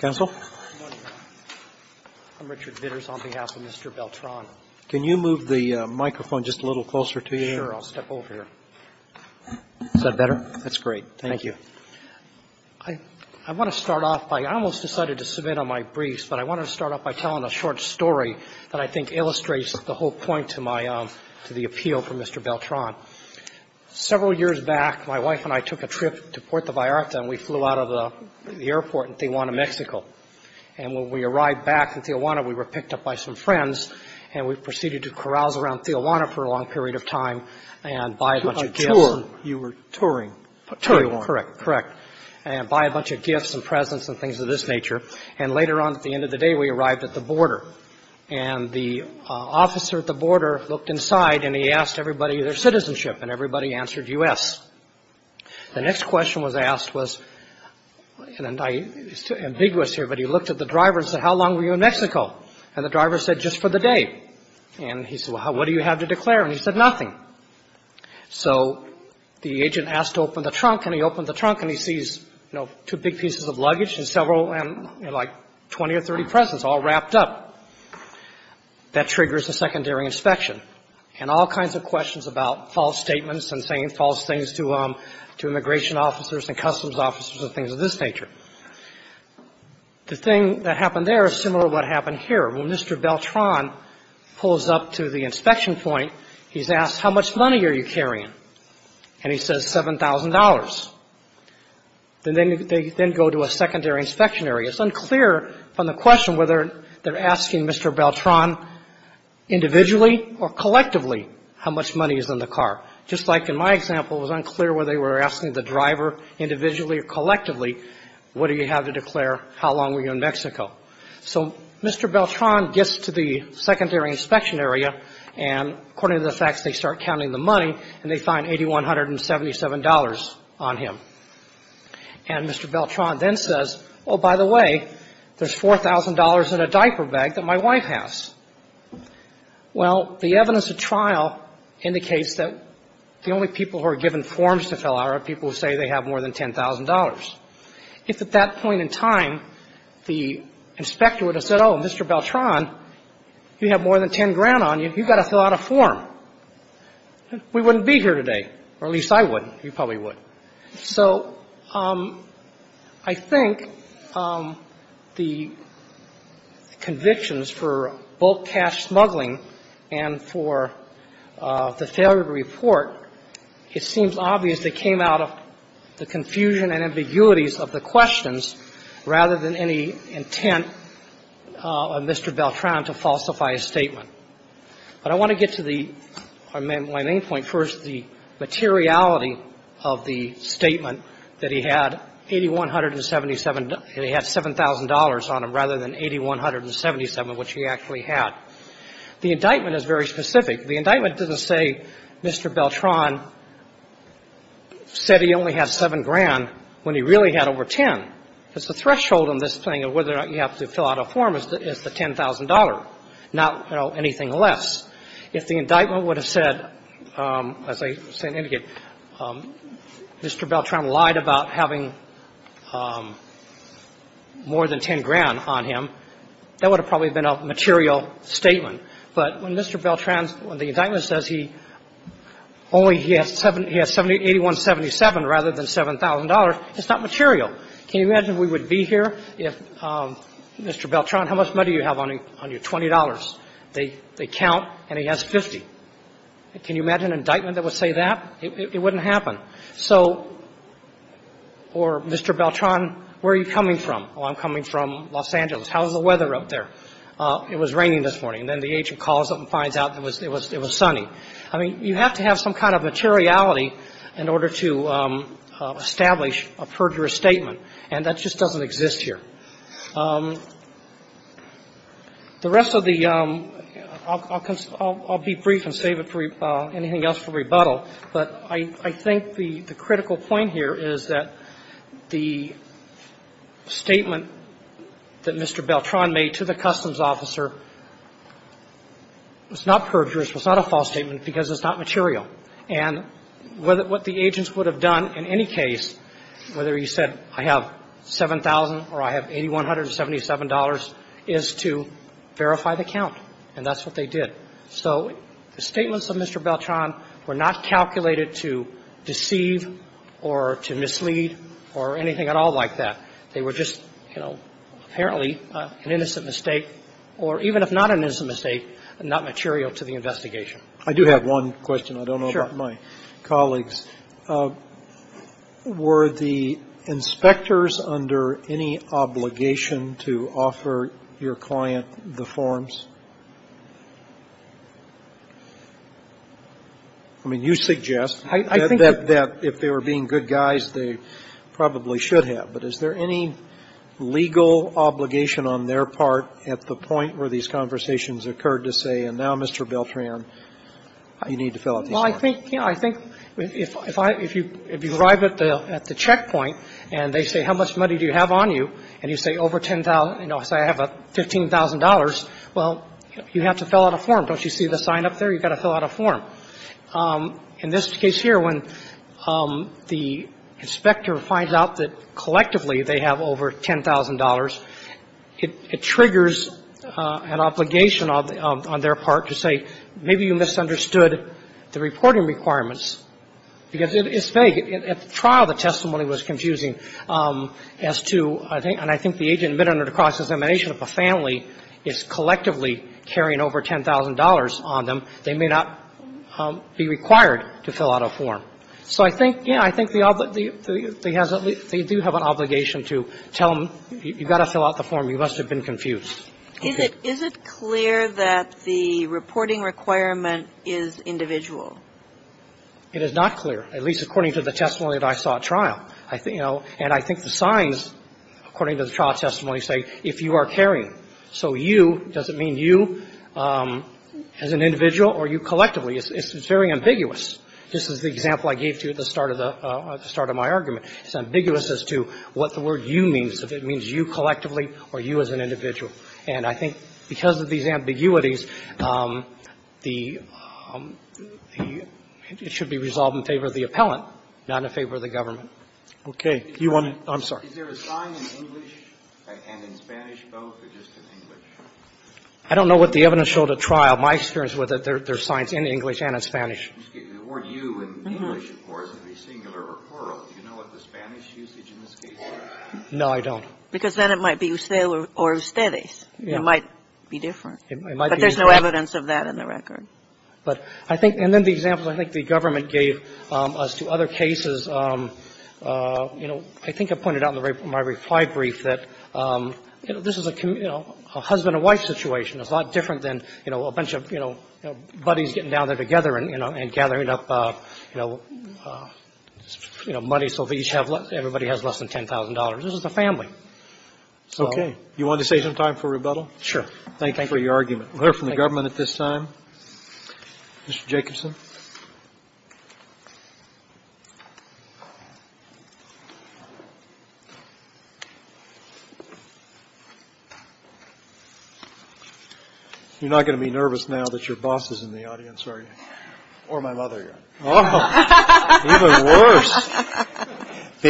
Can you move the microphone just a little closer to you here? Sure. I'll step over here. Is that better? That's great. Thank you. I want to start off by – I almost decided to submit on my briefs, but I want to start off by telling a short story that I think illustrates the whole point to my – to the appeal for Mr. Beltran. Several years back, my wife and I took a trip to Puerto Vallarta, and we flew out of the airport in Tijuana, Mexico. And when we arrived back in Tijuana, we were picked up by some friends, and we proceeded to carouse around Tijuana for a long period of time and buy a bunch of gifts. A tour. You were touring. Correct. Correct. And buy a bunch of gifts and presents and things of this nature. And later on, at the end of the day, we arrived at the border. And the officer at the border looked inside, and he asked everybody their citizenship, and everybody answered U.S. The next question was asked was – and I'm ambiguous here, but he looked at the driver and said, how long were you in Mexico? And the driver said, just for the day. And he said, well, what do you have to declare? And he said, nothing. So the agent asked to open the trunk, and he opened the trunk, and he sees, you know, two big pieces of luggage and several, like, 20 or 30 presents all wrapped up. That triggers a secondary inspection. And all kinds of questions about false statements and saying false things to immigration officers and customs officers and things of this nature. The thing that happened there is similar to what happened here. When Mr. Beltran pulls up to the inspection point, he's asked, how much money are you carrying? And he says $7,000. Then they go to a secondary inspection area. It's unclear from the question whether they're asking Mr. Beltran individually or collectively how much money is in the car. Just like in my example, it was unclear whether they were asking the driver individually or collectively, what do you have to declare, how long were you in Mexico? So Mr. Beltran gets to the secondary inspection area, and according to the facts, they start counting the money, and they find $8,177 on him. And Mr. Beltran then says, oh, by the way, there's $4,000 in a diaper bag that my wife has. Well, the evidence of trial indicates that the only people who are given forms to fill out are people who say they have more than $10,000. If at that point in time the inspector would have said, oh, Mr. Beltran, you have more than $10,000 on you, you've got to fill out a form. We wouldn't be here today, or at least I wouldn't. You probably would. So I think the convictions for bulk cash smuggling and for the failure to report, it seems obvious they came out of the confusion and ambiguities of the questions rather than any intent of Mr. Beltran to falsify his statement. But I want to get to the main point first, the materiality of the statement that he had $8,177 and he had $7,000 on him rather than $8,177, which he actually had. The indictment is very specific. The indictment doesn't say Mr. Beltran said he only had 7 grand when he really had over 10. Because the threshold on this thing of whether or not you have to fill out a form is the $10,000, not, you know, anything less. If the indictment would have said, as I indicated, Mr. Beltran lied about having more than 10 grand on him, that would have probably been a material statement. But when Mr. Beltran, when the indictment says he only has 7 — he has $8,177 rather than $7,000, it's not material. Can you imagine if we would be here if Mr. Beltran, how much money do you have on you? $20. They count and he has 50. Can you imagine an indictment that would say that? It wouldn't happen. So — or Mr. Beltran, where are you coming from? Oh, I'm coming from Los Angeles. How is the weather up there? It was raining this morning. And then the agent calls up and finds out it was sunny. I mean, you have to have some kind of materiality in order to establish a perjurous statement, and that just doesn't exist here. The rest of the — I'll be brief and save it for anything else for rebuttal, but I think the critical point here is that the statement that Mr. Beltran made to the customs officer was not perjurous, was not a false statement, because it's not material. And what the agents would have done in any case, whether he said I have $7,000 or I have $8,177, is to verify the count. And that's what they did. So the statements of Mr. Beltran were not calculated to deceive or to mislead or anything at all like that. They were just, you know, apparently an innocent mistake, or even if not an innocent mistake, not material to the investigation. I do have one question. Sure. I don't know about my colleagues. Were the inspectors under any obligation to offer your client the forms? I mean, you suggest that if they were being good guys, they probably should have. But is there any legal obligation on their part at the point where these conversations occurred to say, and now, Mr. Beltran, you need to fill out these forms? Well, I think, you know, I think if you arrive at the checkpoint and they say, how much money do you have on you, and you say over $10,000, you know, say I have $15,000, well, you have to fill out a form. Don't you see the sign up there? You've got to fill out a form. Well, in this case here, when the inspector finds out that collectively they have over $10,000, it triggers an obligation on their part to say, maybe you misunderstood the reporting requirements. Because it's vague. At the trial, the testimony was confusing as to, and I think the agent admitted under the cross-examination of a family is collectively carrying over $10,000 on them. They may not be required to fill out a form. So I think, yeah, I think they do have an obligation to tell them, you've got to fill out the form. You must have been confused. Is it clear that the reporting requirement is individual? It is not clear, at least according to the testimony that I saw at trial. You know, and I think the signs, according to the trial testimony, say if you are carrying. So you, does it mean you as an individual or you collectively? It's very ambiguous. This is the example I gave to you at the start of the – at the start of my argument. It's ambiguous as to what the word you means, if it means you collectively or you as an individual. And I think because of these ambiguities, the – it should be resolved in favor of the appellant, not in favor of the government. Okay. You want to – I'm sorry. Is there a sign in English and in Spanish, both, or just in English? I don't know what the evidence showed at trial. My experience with it, there's signs in English and in Spanish. The word you in English, of course, would be singular or plural. Do you know what the Spanish usage in this case is? No, I don't. Because then it might be ustedes. Yeah. It might be different. It might be different. But there's no evidence of that in the record. But I think – and then the example I think the government gave as to other cases, you know, I think I pointed out in my reply brief that, you know, this is a, you know, a husband and wife situation. It's a lot different than, you know, a bunch of, you know, buddies getting down there together and, you know, and gathering up, you know, money so they each have less – everybody has less than $10,000. This is a family. Okay. You want to save some time for rebuttal? Sure. Thank you for your argument. Thank you. We'll hear from the government at this time. Mr. Jacobson. You're not going to be nervous now that your boss is in the audience, are you? Or my mother, yeah. Oh, even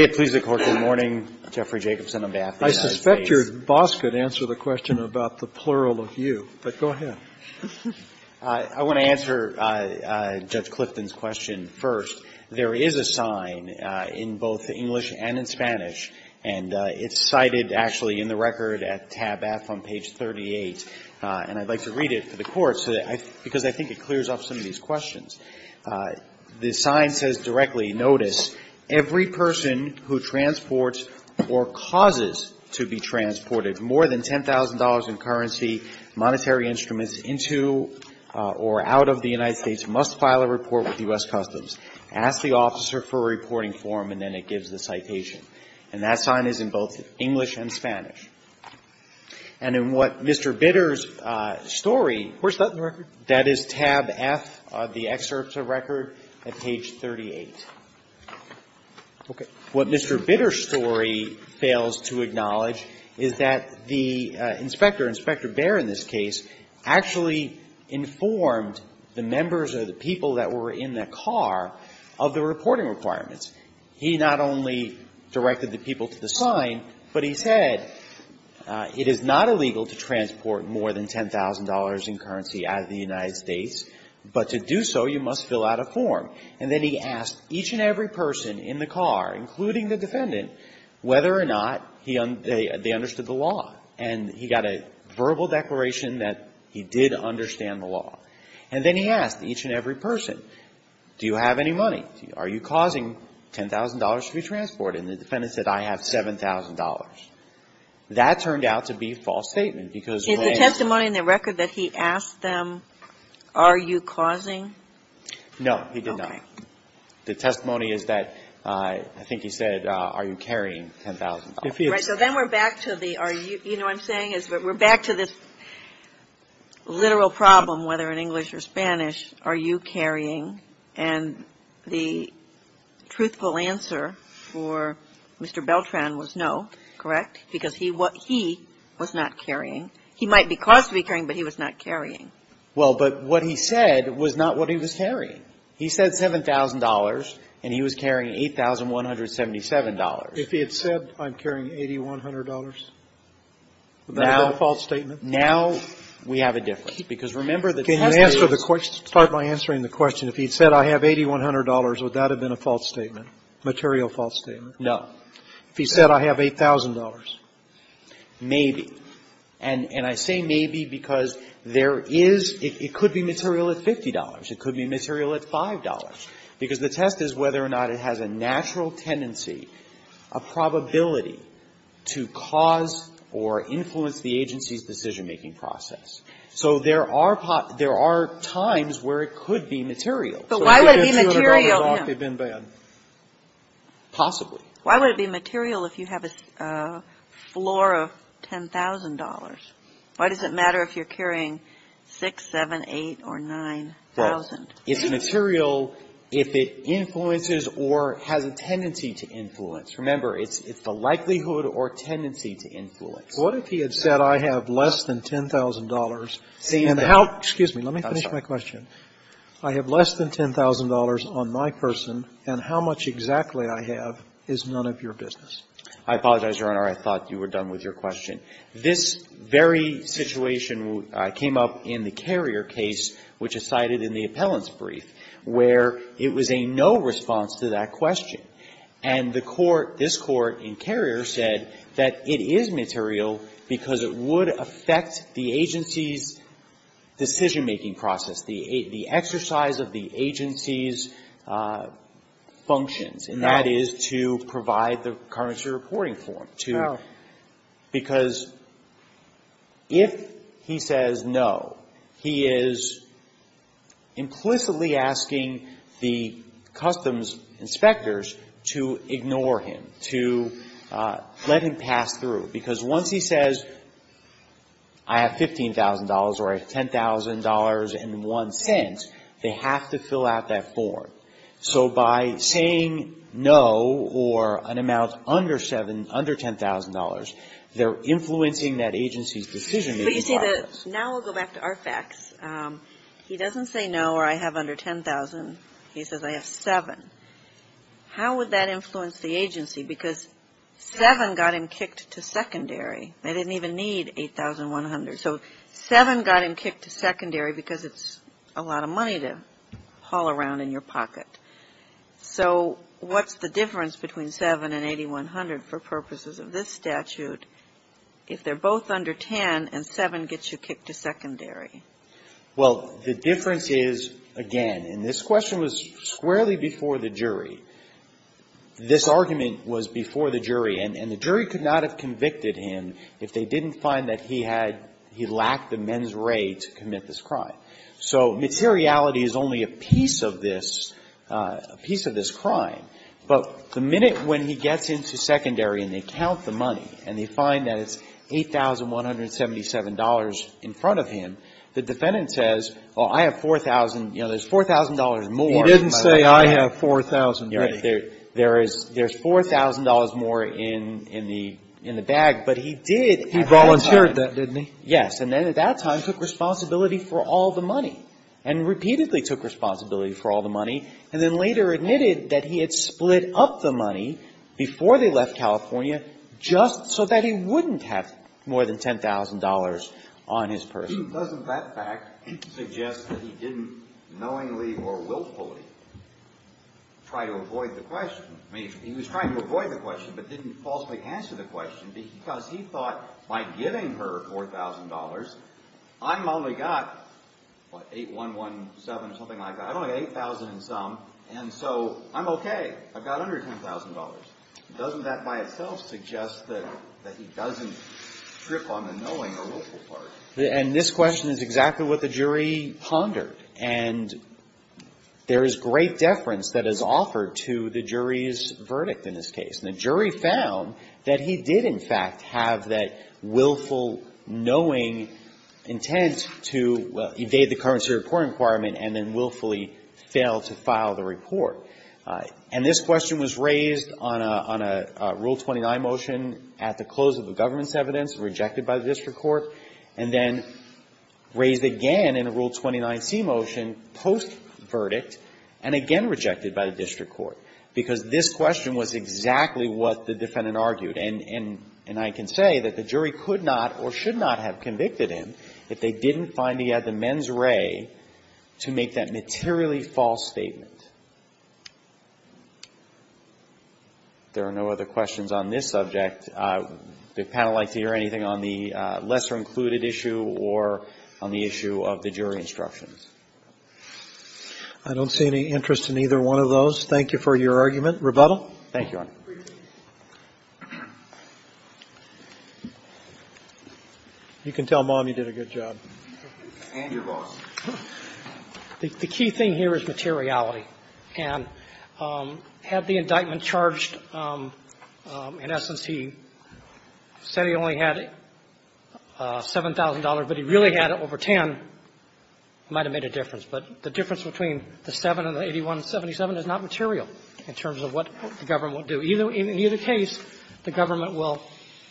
worse. Please, the Court, good morning. Jeffrey Jacobson on behalf of the United States. I suspect your boss could answer the question about the plural of you. But go ahead. I want to answer Judge Clifton's question first. There is a sign in both English and in Spanish, and it's cited actually in the record at tab F on page 38, and I'd like to read it for the Court because I think it clears off some of these questions. The sign says directly, notice, every person who transports or causes to be transported more than $10,000 in currency, monetary instruments into or out of the United States must file a report with U.S. Customs. Ask the officer for a reporting form, and then it gives the citation. And that sign is in both English and Spanish. And in what Mr. Bitter's story, where's that in the record? That is tab F of the excerpt of record at page 38. Okay. What Mr. Bitter's story fails to acknowledge is that the inspector, Inspector Baer in this case, actually informed the members or the people that were in the car of the reporting requirements. He not only directed the people to the sign, but he said it is not illegal to transport more than $10,000 in currency out of the United States, but to do so, you must fill out a form. And then he asked each and every person in the car, including the defendant, whether or not they understood the law. And he got a verbal declaration that he did understand the law. And then he asked each and every person, do you have any money? Are you causing $10,000 to be transported? And the defendant said, I have $7,000. That turned out to be a false statement, because when I asked them. Is the testimony in the record that he asked them, are you causing? No, he did not. Okay. The testimony is that, I think he said, are you carrying $10,000. Right. So then we're back to the, are you, you know what I'm saying, is we're back to this literal problem, whether in English or Spanish, are you carrying? And the truthful answer for Mr. Beltran was no, correct? Because he was not carrying. He might be caused to be carrying, but he was not carrying. Well, but what he said was not what he was carrying. He said $7,000, and he was carrying $8,177. If he had said, I'm carrying $8,100, would that have been a false statement? Now we have a difference, because remember the testimony is. Can you answer the question, start by answering the question, if he had said, I have $8,100, would that have been a false statement, material false statement? No. If he said, I have $8,000. Maybe. And I say maybe because there is, it could be material at $50. It could be material at $5. Because the test is whether or not it has a natural tendency, a probability to cause or influence the agency's decision-making process. So there are times where it could be material. But why would it be material? Possibly. Why would it be material if you have a floor of $10,000? Why does it matter if you're carrying 6, 7, 8, or 9,000? Well, it's material if it influences or has a tendency to influence. Remember, it's the likelihood or tendency to influence. What if he had said, I have less than $10,000. Excuse me. Let me finish my question. I have less than $10,000 on my person. And how much exactly I have is none of your business. I apologize, Your Honor. I thought you were done with your question. This very situation came up in the Carrier case, which is cited in the appellant's brief, where it was a no response to that question. And the Court, this Court in Carrier, said that it is material because it would affect the agency's decision-making process, the exercise of the agency's functions. And that is to provide the currency reporting form. Because if he says no, he is implicitly asking the customs inspectors to ignore him, to let him pass through. Because once he says, I have $15,000 or I have $10,000.01, they have to fill out that form. So by saying no or an amount under $10,000, they're influencing that agency's decision-making process. But you see, now we'll go back to our facts. He doesn't say no or I have under $10,000. He says I have $7,000. How would that influence the agency? Because $7,000.00 got him kicked to secondary. They didn't even need $8,100.00. So $7,000.00 got him kicked to secondary because it's a lot of money to haul around in your pocket. So what's the difference between $7,000.00 and $8,100.00 for purposes of this statute if they're both under $10,000.00 and $7,000.00 gets you kicked to secondary? Well, the difference is, again, and this question was squarely before the jury. This argument was before the jury. And the jury could not have convicted him if they didn't find that he had he lacked the men's right to commit this crime. So materiality is only a piece of this, a piece of this crime. But the minute when he gets into secondary and they count the money and they find that it's $8,177.00 in front of him, the defendant says, well, I have $4,000.00. You know, there's $4,000.00 more. He didn't say, I have $4,000.00. Right. There's $4,000.00 more in the bag. But he did have $4,000.00. He volunteered that, didn't he? Yes. And then at that time took responsibility for all the money and repeatedly took responsibility for all the money and then later admitted that he had split up the money before they left California just so that he wouldn't have more than $10,000.00 on his purse. Doesn't that fact suggest that he didn't knowingly or willfully try to avoid the question? I mean, he was trying to avoid the question but didn't falsely answer the question because he thought by giving her $4,000.00, I've only got, what, $8,117.00 or something like that. I've only got $8,000.00 in sum. And so I'm okay. I've got under $10,000.00. Doesn't that by itself suggest that he doesn't trip on the knowing or willful part? And this question is exactly what the jury pondered. And there is great deference that is offered to the jury's verdict in this case. And the jury found that he did, in fact, have that willful knowing intent to evade the currency report requirement and then willfully failed to file the report. And this question was raised on a Rule 29 motion at the close of the government's court, rejected by the district court, and then raised again in a Rule 29C motion post-verdict and again rejected by the district court because this question was exactly what the defendant argued. And I can say that the jury could not or should not have convicted him if they didn't find he had the mens re to make that materially false statement. There are no other questions on this subject. Would the panel like to hear anything on the lesser included issue or on the issue of the jury instructions? I don't see any interest in either one of those. Thank you for your argument. Rebuttal? Thank you, Your Honor. You can tell Mom you did a good job. And your boss. The key thing here is materiality. And had the indictment charged, in essence, he said he only had $7,000, but he really had it over 10, it might have made a difference. But the difference between the 7 and the 8177 is not material in terms of what the government will do. In either case, the government will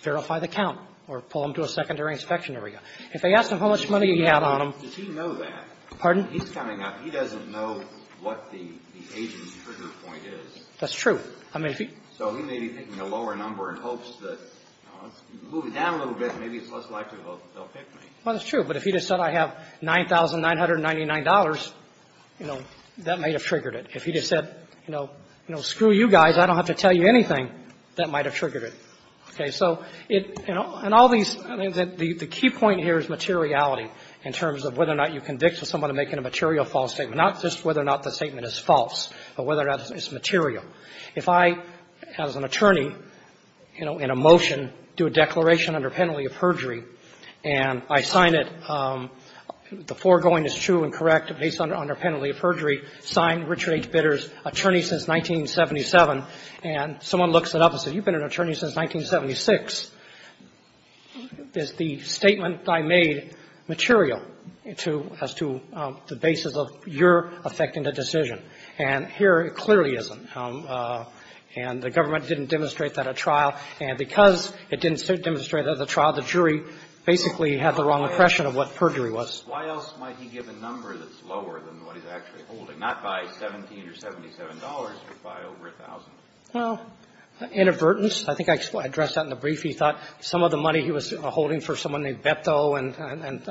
verify the count or pull him to a secondary inspection area. If they ask him how much money he had on him he's coming up, he doesn't know what the agent's trigger point is. That's true. So he may be thinking a lower number in hopes that, you know, let's move it down a little bit, maybe it's less likely they'll pick me. Well, that's true. But if he just said I have $9,999, you know, that might have triggered it. If he just said, you know, screw you guys, I don't have to tell you anything, that might have triggered it. Okay. So in all these the key point here is materiality in terms of whether or not you convict someone of making a material false statement. Not just whether or not the statement is false, but whether or not it's material. If I, as an attorney, you know, in a motion, do a declaration under penalty of perjury and I sign it, the foregoing is true and correct based on our penalty of perjury, signed Richard H. Bitter's attorney since 1977, and someone looks it up and says, you've been an attorney since 1976, is the statement I made material to as to whether or not it's true based on your effect in the decision. And here it clearly isn't. And the government didn't demonstrate that at trial. And because it didn't demonstrate that at trial, the jury basically had the wrong impression of what perjury was. Why else might he give a number that's lower than what he's actually holding, not by $17 or $77, but by over $1,000? Well, inadvertence. I think I addressed that in the brief. He thought some of the money he was holding for someone named Beto and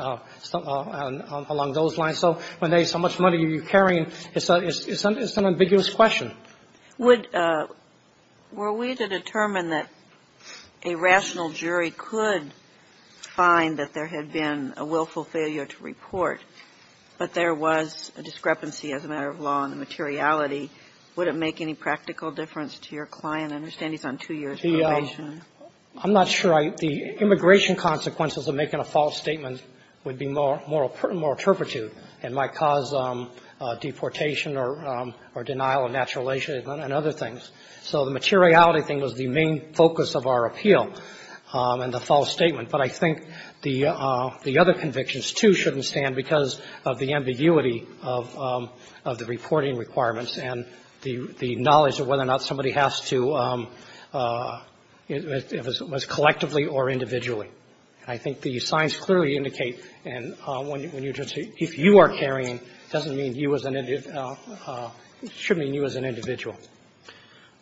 along those lines. So when they say how much money are you carrying, it's an ambiguous question. Were we to determine that a rational jury could find that there had been a willful failure to report, but there was a discrepancy as a matter of law in the materiality, would it make any practical difference to your client? I understand he's on two years probation. I'm not sure. The immigration consequences of making a false statement would be moral turpitude and might cause deportation or denial of naturalization and other things. So the materiality thing was the main focus of our appeal and the false statement. But I think the other convictions, too, shouldn't stand because of the ambiguity of the reporting requirements and the knowledge of whether or not somebody has to, if it was collectively or individually. I think the signs clearly indicate, and if you are carrying, it doesn't mean you as an individual, it should mean you as an individual.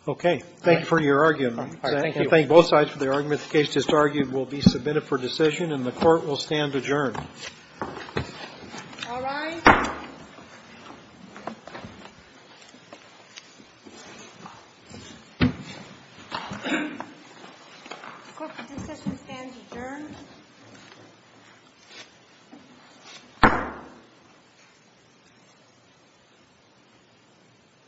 Okay. Thank you for your argument. I thank both sides for their arguments. The case just argued will be submitted for decision and the Court will stand adjourned. All rise. The Court will stand adjourned.